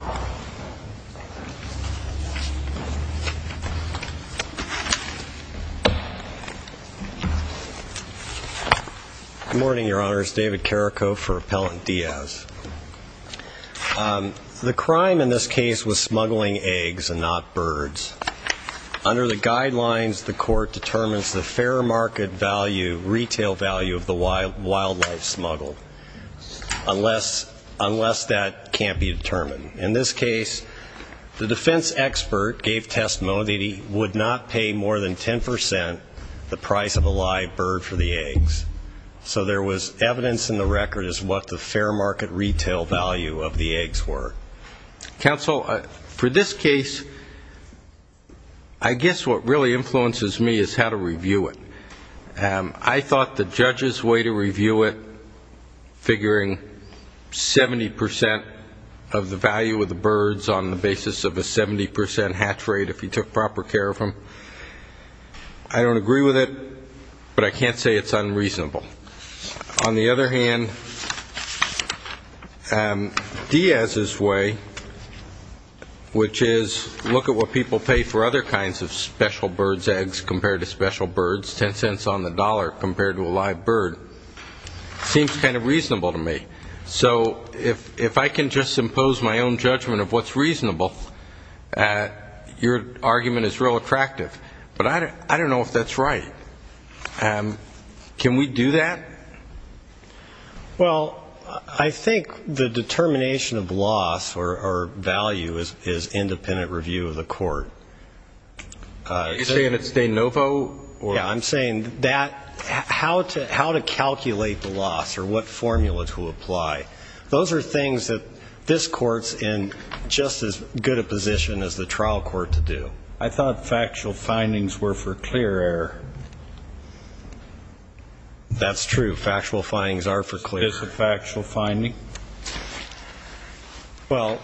Good morning, your honors. David Carrico for Appellant Diaz. The crime in this case was smuggling eggs and not birds. Under the guidelines, the court determines the fair market value, of the wildlife smuggled, unless that can't be determined. In this case, the defense expert gave testimony that he would not pay more than 10% the price of a live bird for the eggs. So there was evidence in the record as to what the fair market retail value of the eggs were. Counsel, for this case, I guess what really influences me is how to review it. I thought the judge's way to review it, figuring 70% of the value of the birds on the basis of a 70% hatch rate if he took proper care of them, I don't agree with it, but I can't say it's unreasonable. On the other hand, Diaz's way, which is look at what people pay for other kinds of special birds' eggs compared to special birds, 10 cents on the dollar compared to a live bird, seems kind of reasonable to me. So if I can just impose my own judgment of what's reasonable, your argument is real attractive. But I don't know if that's right. Can we do that? Well, I think the determination of loss or value is independent review of the court. Are you saying it's de novo? Yeah, I'm saying how to calculate the loss or what formula to apply. Those are things that this court's in just as good a position as the trial court to do. I thought factual findings were for clear error. That's true. Factual findings are for clear error. Is this a factual finding? Well,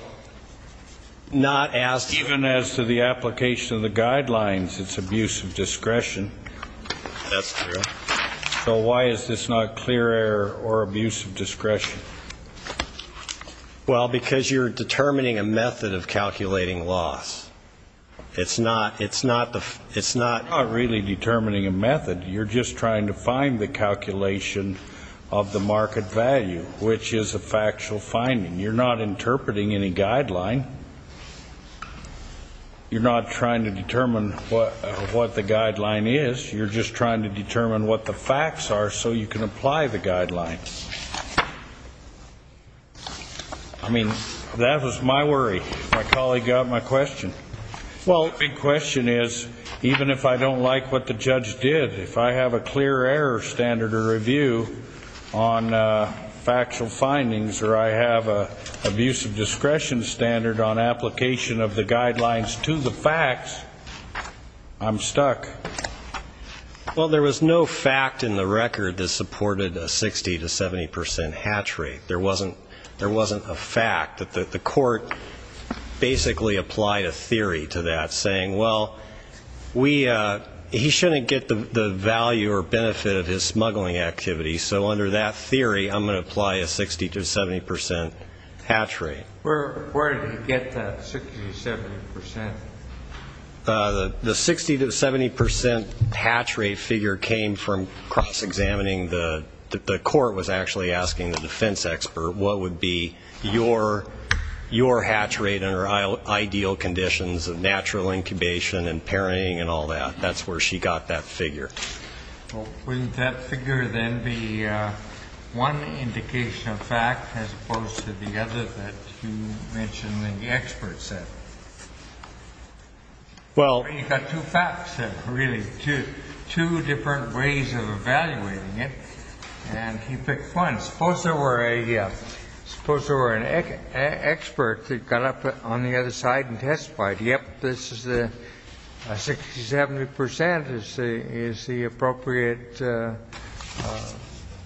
not as clear. Even as to the application of the guidelines, it's abuse of discretion. That's true. Well, because you're determining a method of calculating loss. It's not really determining a method. You're just trying to find the calculation of the market value, which is a factual finding. You're not interpreting any guideline. You're not trying to determine what the guideline is. You're just trying to determine what the facts are so you can apply the guidelines. I mean, that was my worry. My colleague got my question. Well, the big question is, even if I don't like what the judge did, if I have a clear error standard of review on factual findings, or I have an abuse of discretion standard on application of the guidelines to the facts, I'm stuck. Well, there was no fact in the record that supported a 60% to 70% hatch rate. There wasn't a fact. The court basically applied a theory to that, saying, well, he shouldn't get the value or benefit of his smuggling activity, so under that theory I'm going to apply a 60% to 70% hatch rate. Where did he get that 60% to 70%? The 60% to 70% hatch rate figure came from cross-examining. The court was actually asking the defense expert what would be your hatch rate under ideal conditions of natural incubation and parenting and all that. That's where she got that figure. Well, wouldn't that figure then be one indication of fact as opposed to the other that you mentioned that the expert said? Well, you've got two facts, really, two different ways of evaluating it, and he picked one. Suppose there were an expert that got up on the other side and testified, yep, this is a 60% to 70% is the appropriate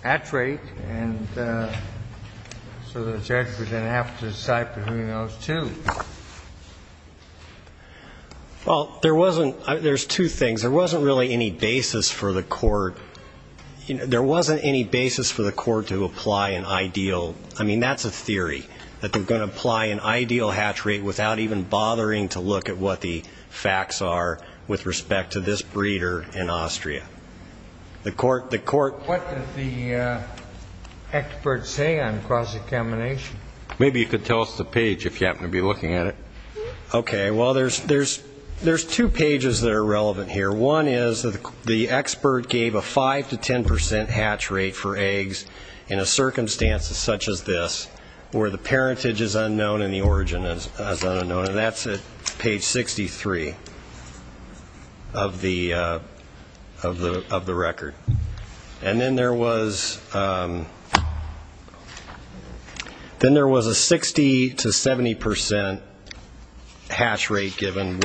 hatch rate, and so the judge would then have to decide between those two. Well, there's two things. There wasn't really any basis for the court. There wasn't any basis for the court to apply an ideal. I mean, that's a theory, that they're going to apply an ideal hatch rate without even bothering to look at what the facts are with respect to this breeder in Austria. What did the expert say on cross-examination? Maybe you could tell us the page if you happen to be looking at it. Okay, well, there's two pages that are relevant here. Number one is that the expert gave a 5% to 10% hatch rate for eggs in a circumstance such as this, where the parentage is unknown and the origin is unknown, and that's at page 63 of the record. And then there was a 60% to 70% hatch rate given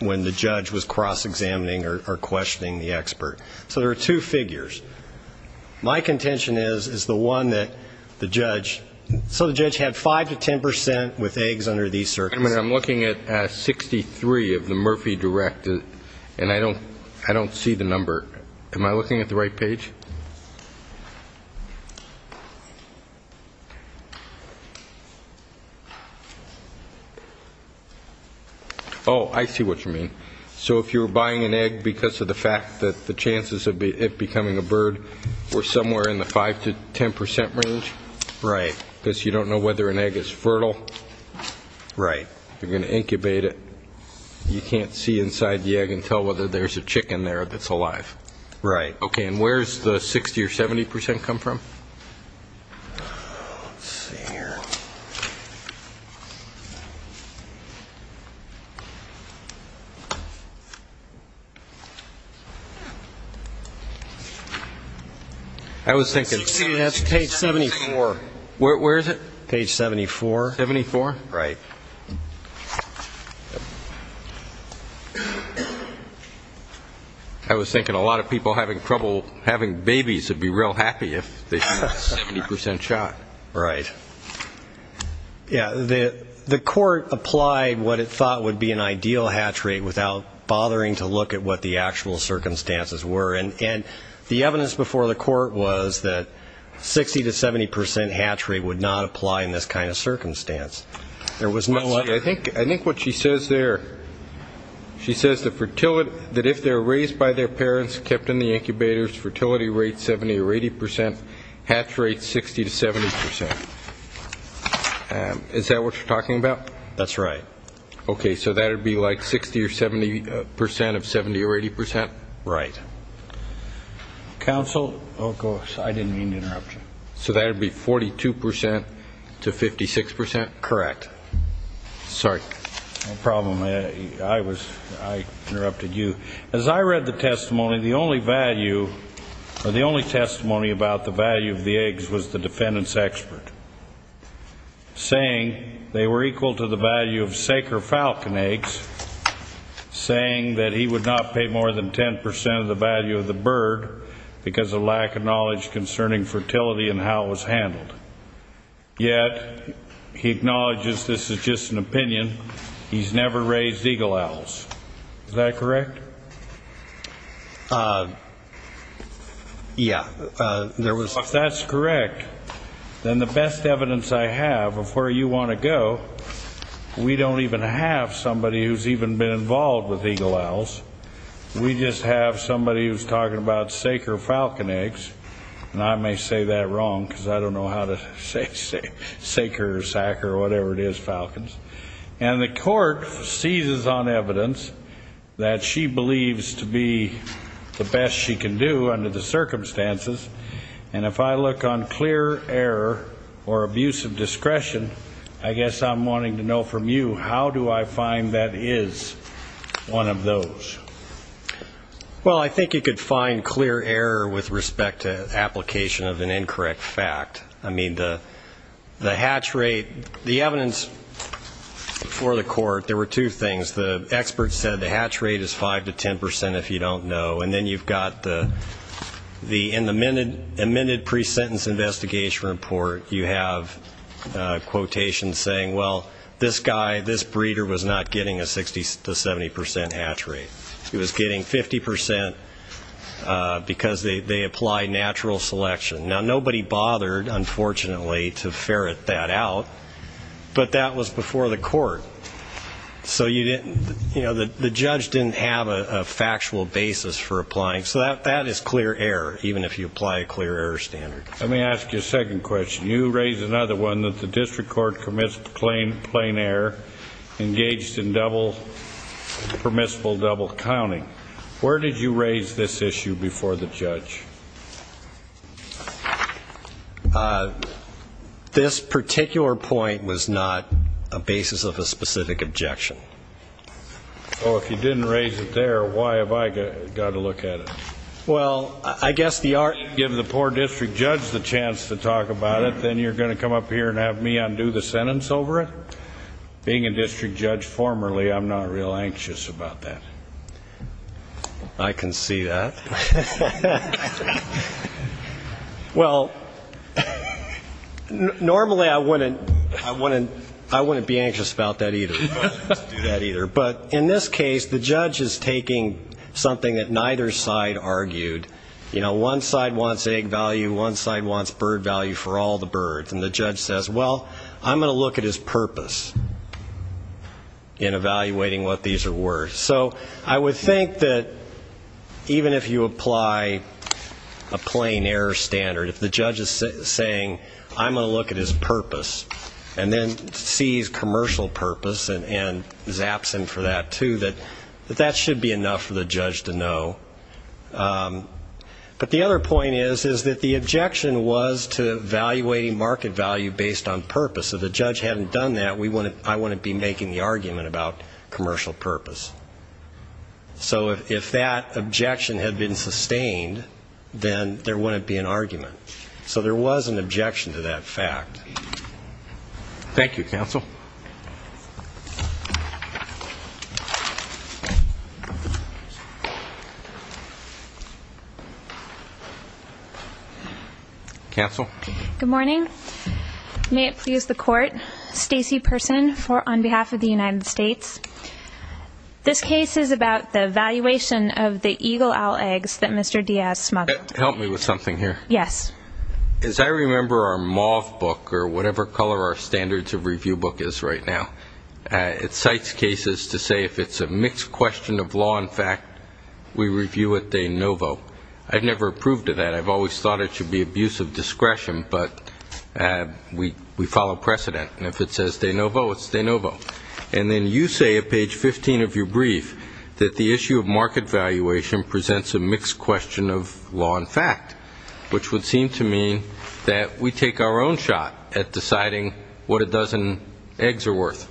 when the judge was cross-examining or questioning the expert. So there are two figures. My contention is, is the one that the judge, so the judge had 5% to 10% with eggs under these circumstances. I mean, I'm looking at 63 of the Murphy Direct, and I don't see the number. Am I looking at the right page? Oh, I see what you mean. So if you were buying an egg because of the fact that the chances of it becoming a bird were somewhere in the 5% to 10% range, because you don't know whether an egg is fertile, you're going to incubate it. You can't see inside the egg and tell whether there's a chicken there that's alive. Right. Okay. And where's the 60% or 70% come from? Let's see here. I was thinking. Page 74. Where is it? Page 74. 74? Right. I was thinking a lot of people having trouble having babies would be real happy if they saw a 70% shot. Right. Yeah, the court applied what it thought would be an ideal hatch rate without bothering to look at what the actual circumstances were. And the evidence before the court was that 60% to 70% hatch rate would not apply in this kind of circumstance. Let's see. I think what she says there, she says that if they're raised by their parents, kept in the incubators, fertility rate 70% or 80%, hatch rate 60% to 70%. Is that what you're talking about? That's right. Okay. So that would be like 60% or 70% of 70% or 80%? Right. Counsel? I didn't mean to interrupt you. So that would be 42% to 56%? Correct. Sorry. No problem. I interrupted you. As I read the testimony, the only value or the only testimony about the value of the eggs was the defendant's expert, saying they were equal to the value of Saker Falcon eggs, saying that he would not pay more than 10% of the value of the bird because of lack of knowledge concerning fertility and how it was handled. Yet he acknowledges this is just an opinion. He's never raised eagle owls. Is that correct? Yeah. If that's correct, then the best evidence I have of where you want to go, we don't even have somebody who's even been involved with eagle owls. We just have somebody who's talking about Saker Falcon eggs, and I may say that wrong because I don't know how to say Saker or Sacker or whatever it is, falcons. And the court seizes on evidence that she believes to be the best she can do under the circumstances, and if I look on clear error or abuse of discretion, I guess I'm wanting to know from you, how do I find that is one of those? Well, I think you could find clear error with respect to application of an incorrect fact. I mean, the hatch rate, the evidence for the court, there were two things. The experts said the hatch rate is 5% to 10% if you don't know, and then you've got in the amended pre-sentence investigation report you have quotations saying, well, this guy, this breeder was not getting a 60% to 70% hatch rate. He was getting 50% because they applied natural selection. Now, nobody bothered, unfortunately, to ferret that out, but that was before the court. So you didn't, you know, the judge didn't have a factual basis for applying. So that is clear error, even if you apply a clear error standard. Let me ask you a second question. You raised another one that the district court commits plain error engaged in permissible double counting. Where did you raise this issue before the judge? This particular point was not a basis of a specific objection. Oh, if you didn't raise it there, why have I got to look at it? Well, I guess the art. Give the poor district judge the chance to talk about it, then you're going to come up here and have me undo the sentence over it? Being a district judge formerly, I'm not real anxious about that. I can see that. Well, normally I wouldn't be anxious about that either. But in this case, the judge is taking something that neither side argued. You know, one side wants egg value, one side wants bird value for all the birds. And the judge says, well, I'm going to look at his purpose in evaluating what these are worth. So I would think that even if you apply a plain error standard, if the judge is saying I'm going to look at his purpose and then sees commercial purpose and zaps him for that too, that that should be enough for the judge to know. But the other point is that the objection was to evaluating market value based on purpose. If the judge hadn't done that, I wouldn't be making the argument about commercial purpose. So if that objection had been sustained, then there wouldn't be an argument. So there was an objection to that fact. Thank you, counsel. Counsel. Good morning. May it please the court. Stacey Person on behalf of the United States. This case is about the valuation of the eagle owl eggs that Mr. Diaz smuggled. Help me with something here. Yes. As I remember our MOV book, or whatever color our standards of review book is right now, it cites cases to say if it's a mixed question of law and fact, we review it de novo. I've never approved of that. I've always thought it should be abuse of discretion, but we follow precedent. And if it says de novo, it's de novo. And then you say at page 15 of your brief that the issue of market valuation presents a mixed question of law and fact, which would seem to mean that we take our own shot at deciding what a dozen eggs are worth.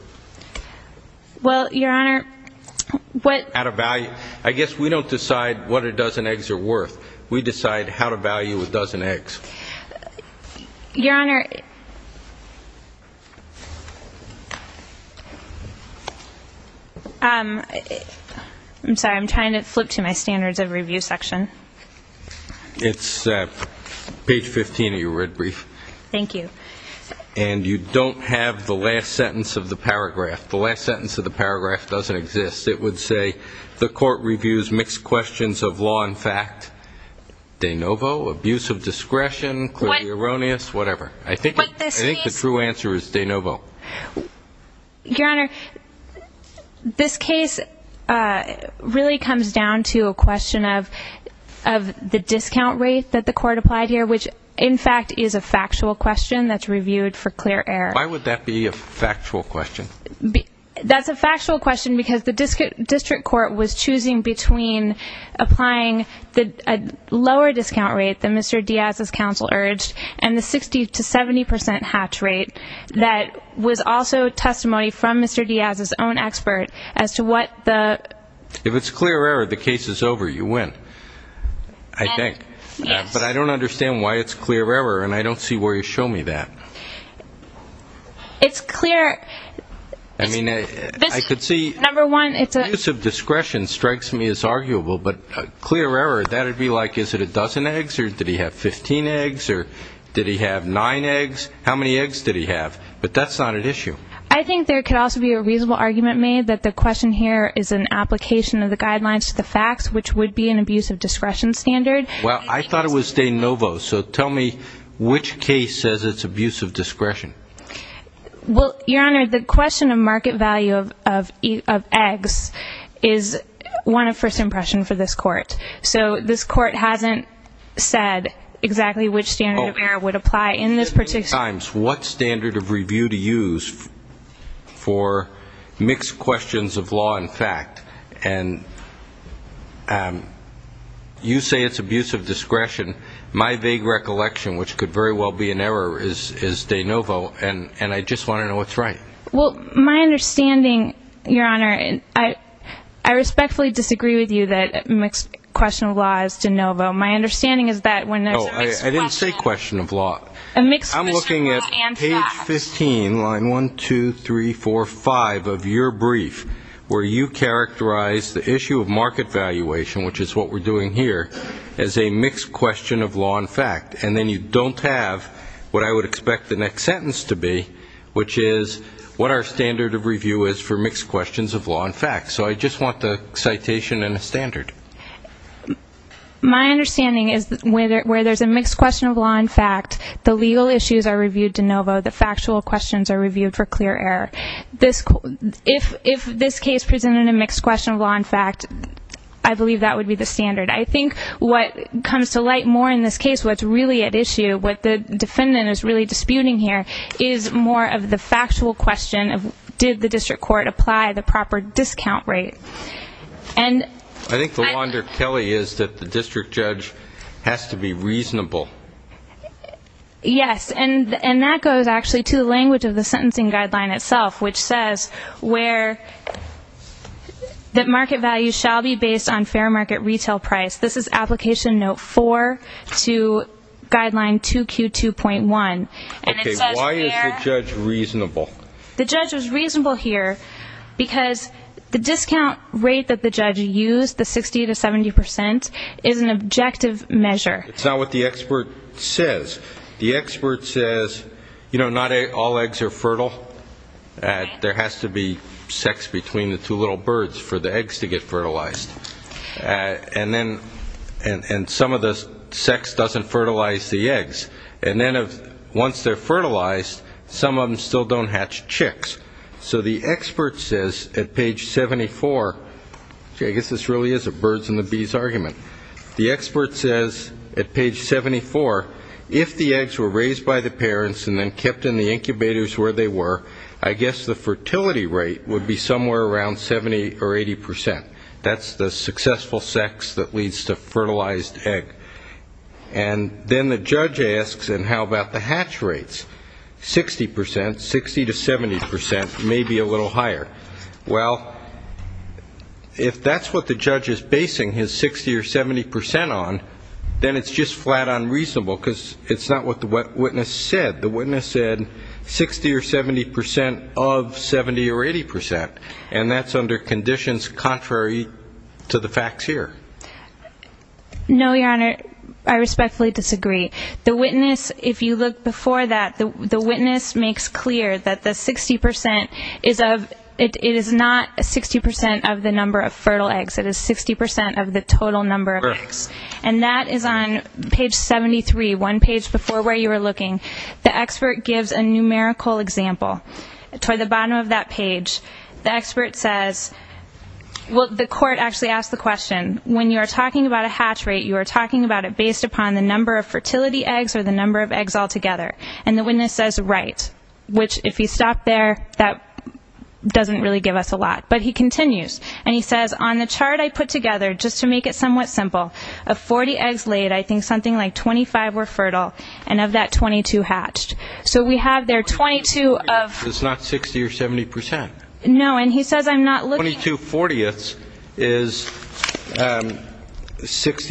Well, Your Honor, what ---- Out of value. I guess we don't decide what a dozen eggs are worth. We decide how to value a dozen eggs. Your Honor, I'm sorry. I'm trying to flip to my standards of review section. It's page 15 of your red brief. Thank you. And you don't have the last sentence of the paragraph. The last sentence of the paragraph doesn't exist. It would say the court reviews mixed questions of law and fact, de novo, abuse of discretion, clearly erroneous, whatever. But this case ---- I think the true answer is de novo. Your Honor, this case really comes down to a question of the discount rate that the court applied here, which, in fact, is a factual question that's reviewed for clear error. Why would that be a factual question? That's a factual question because the district court was choosing between applying a lower discount rate than Mr. Diaz's counsel urged and the 60 to 70 percent hatch rate that was also testimony from Mr. Diaz's own expert as to what the ---- If it's clear error, the case is over. You win, I think. Yes. But I don't understand why it's clear error, and I don't see where you show me that. It's clear ---- I mean, I could see ---- Number one, it's a ---- Did he have 15 eggs or did he have 9 eggs? How many eggs did he have? But that's not an issue. I think there could also be a reasonable argument made that the question here is an application of the guidelines to the facts, which would be an abuse of discretion standard. Well, I thought it was de novo, so tell me which case says it's abuse of discretion. Well, Your Honor, the question of market value of eggs is one of first impression for this court. So this court hasn't said exactly which standard of error would apply in this particular ---- What standard of review to use for mixed questions of law and fact? And you say it's abuse of discretion. My vague recollection, which could very well be an error, is de novo, and I just want to know what's right. Well, my understanding, Your Honor, I respectfully disagree with you that a mixed question of law is de novo. My understanding is that when there's a mixed question ---- Oh, I didn't say question of law. A mixed question of law and fact. I'm looking at page 15, line 1, 2, 3, 4, 5 of your brief, where you characterize the issue of market valuation, which is what we're doing here, as a mixed question of law and fact. And then you don't have what I would expect the next sentence to be, which is what our standard of review is for mixed questions of law and fact. So I just want the citation and a standard. My understanding is that where there's a mixed question of law and fact, the legal issues are reviewed de novo. The factual questions are reviewed for clear error. If this case presented a mixed question of law and fact, I believe that would be the standard. I think what comes to light more in this case, what's really at issue, what the defendant is really disputing here, is more of the factual question of did the district court apply the proper discount rate. I think the law under Kelly is that the district judge has to be reasonable. Yes, and that goes actually to the language of the sentencing guideline itself, which says where the market value shall be based on fair market retail price. This is Application Note 4 to Guideline 2Q2.1. Okay, why is the judge reasonable? The judge was reasonable here because the discount rate that the judge used, the 60 to 70 percent, is an objective measure. It's not what the expert says. The expert says, you know, not all eggs are fertile. There has to be sex between the two little birds for the eggs to get fertilized. And some of the sex doesn't fertilize the eggs. And then once they're fertilized, some of them still don't hatch chicks. So the expert says at page 74, which I guess this really is a birds and the bees argument, the expert says at page 74, if the eggs were raised by the parents and then kept in the incubators where they were, I guess the fertility rate would be somewhere around 70 or 80 percent. That's the successful sex that leads to fertilized egg. And then the judge asks, and how about the hatch rates, 60 percent, 60 to 70 percent, maybe a little higher. Well, if that's what the judge is basing his 60 or 70 percent on, then it's just flat-on reasonable because it's not what the witness said. The witness said 60 or 70 percent of 70 or 80 percent, and that's under conditions contrary to the facts here. No, Your Honor, I respectfully disagree. The witness, if you look before that, the witness makes clear that the 60 percent is not 60 percent of the number of fertile eggs. It is 60 percent of the total number of eggs. And that is on page 73, one page before where you were looking. The expert gives a numerical example. Toward the bottom of that page, the expert says, well, the court actually asked the question, when you are talking about a hatch rate, you are talking about it based upon the number of fertility eggs or the number of eggs altogether. And the witness says, right, which if you stop there, that doesn't really give us a lot. But he continues, and he says, on the chart I put together, just to make it somewhat simple, of 40 eggs laid, I think something like 25 were fertile, and of that, 22 hatched. So we have there 22 of- It's not 60 or 70 percent. No, and he says I'm not looking- 60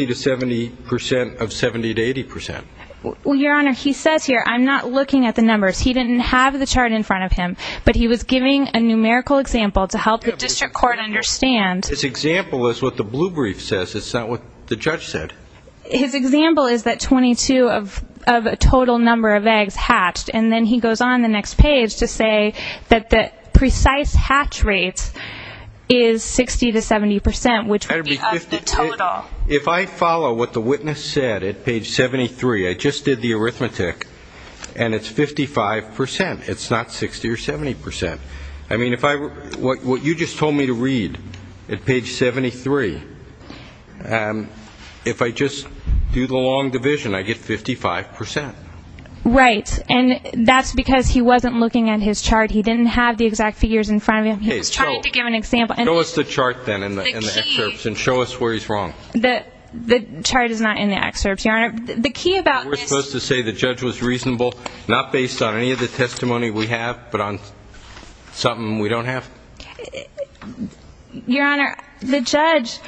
to 70 percent of 70 to 80 percent. Well, Your Honor, he says here I'm not looking at the numbers. He didn't have the chart in front of him, but he was giving a numerical example to help the district court understand. His example is what the blue brief says. It's not what the judge said. His example is that 22 of a total number of eggs hatched, and then he goes on the next page to say that the precise hatch rate is 60 to 70 percent, which would be of the total. If I follow what the witness said at page 73, I just did the arithmetic, and it's 55 percent. It's not 60 or 70 percent. I mean, what you just told me to read at page 73, if I just do the long division, I get 55 percent. Right, and that's because he wasn't looking at his chart. He didn't have the exact figures in front of him. He was trying to give an example. Show us the chart, then, in the excerpts, and show us where he's wrong. The chart is not in the excerpts, Your Honor. The key about this. Are we supposed to say the judge was reasonable, not based on any of the testimony we have, but on something we don't have? Your Honor, the judge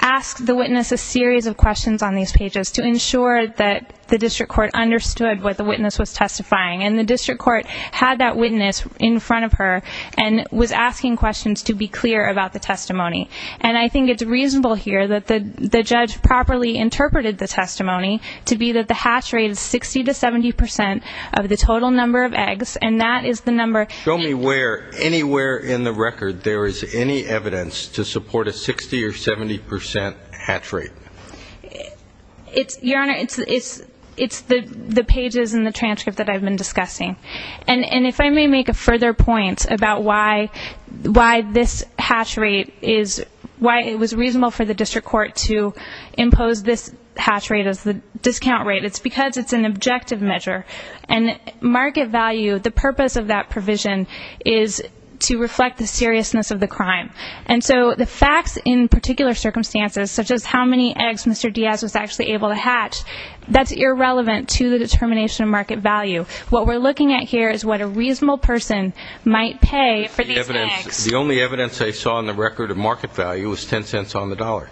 asked the witness a series of questions on these pages to ensure that the district court understood what the witness was testifying, and the district court had that witness in front of her and was asking questions to be clear about the testimony. And I think it's reasonable here that the judge properly interpreted the testimony to be that the hatch rate is 60 to 70 percent of the total number of eggs, and that is the number. Show me where anywhere in the record there is any evidence to support a 60 or 70 percent hatch rate. Your Honor, it's the pages in the transcript that I've been discussing. And if I may make a further point about why this hatch rate is, why it was reasonable for the district court to impose this hatch rate as the discount rate, it's because it's an objective measure. And market value, the purpose of that provision, is to reflect the seriousness of the crime. And so the facts in particular circumstances, such as how many eggs Mr. Diaz was actually able to hatch, that's irrelevant to the determination of market value. What we're looking at here is what a reasonable person might pay for these eggs. The only evidence I saw in the record of market value was $0.10 on the dollar.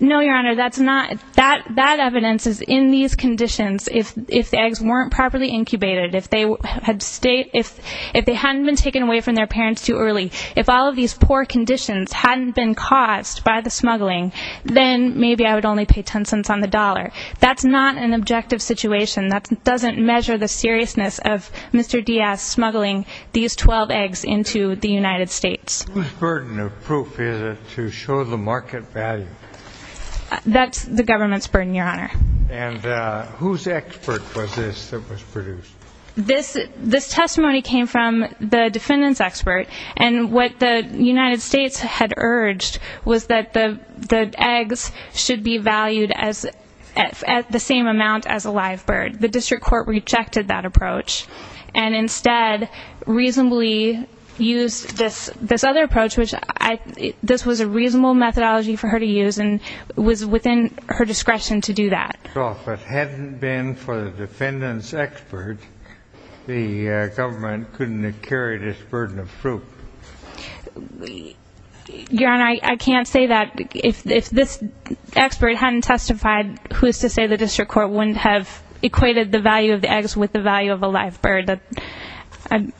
No, Your Honor, that evidence is in these conditions. If the eggs weren't properly incubated, if they hadn't been taken away from their parents too early, if all of these poor conditions hadn't been caused by the smuggling, then maybe I would only pay $0.10 on the dollar. That's not an objective situation. That doesn't measure the seriousness of Mr. Diaz smuggling these 12 eggs into the United States. Whose burden of proof is it to show the market value? That's the government's burden, Your Honor. And whose expert was this that was produced? This testimony came from the defendant's expert, and what the United States had urged was that the eggs should be valued at the same amount as a live bird. The district court rejected that approach and instead reasonably used this other approach, which this was a reasonable methodology for her to use and was within her discretion to do that. So if it hadn't been for the defendant's expert, the government couldn't have carried this burden of proof. Your Honor, I can't say that. If this expert hadn't testified, who is to say the district court wouldn't have equated the value of the eggs with the value of a live bird? I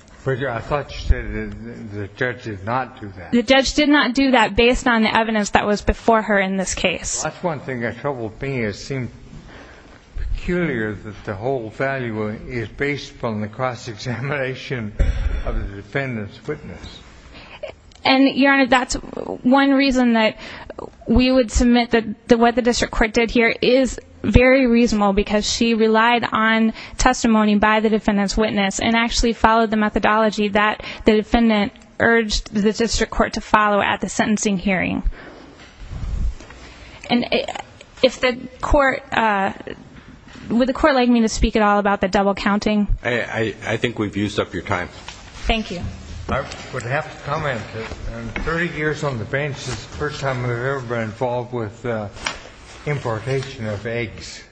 thought you said the judge did not do that. The judge did not do that based on the evidence that was before her in this case. That's one thing that troubled me. It seemed peculiar that the whole value is based on the cross-examination of the defendant's witness. And, Your Honor, that's one reason that we would submit that what the district court did here is very reasonable because she relied on testimony by the defendant's witness and actually followed the methodology that the defendant urged the district court to follow at the sentencing hearing. And would the court like me to speak at all about the double counting? I think we've used up your time. Thank you. I would have to comment that in 30 years on the bench, this is the first time I've ever been involved with importation of eggs.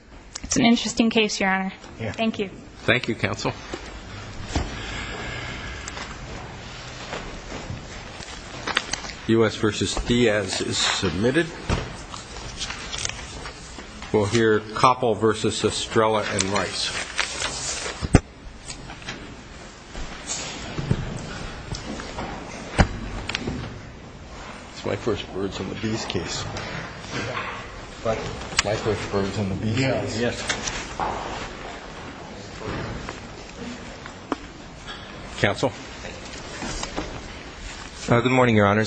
It's an interesting case, Your Honor. Thank you. Thank you, counsel. U.S. v. Diaz is submitted. We'll hear Koppel v. Estrella and Rice. That's my first words on the B's case. What? My first words on the B's case. Yes. Counsel? Good morning, Your Honor.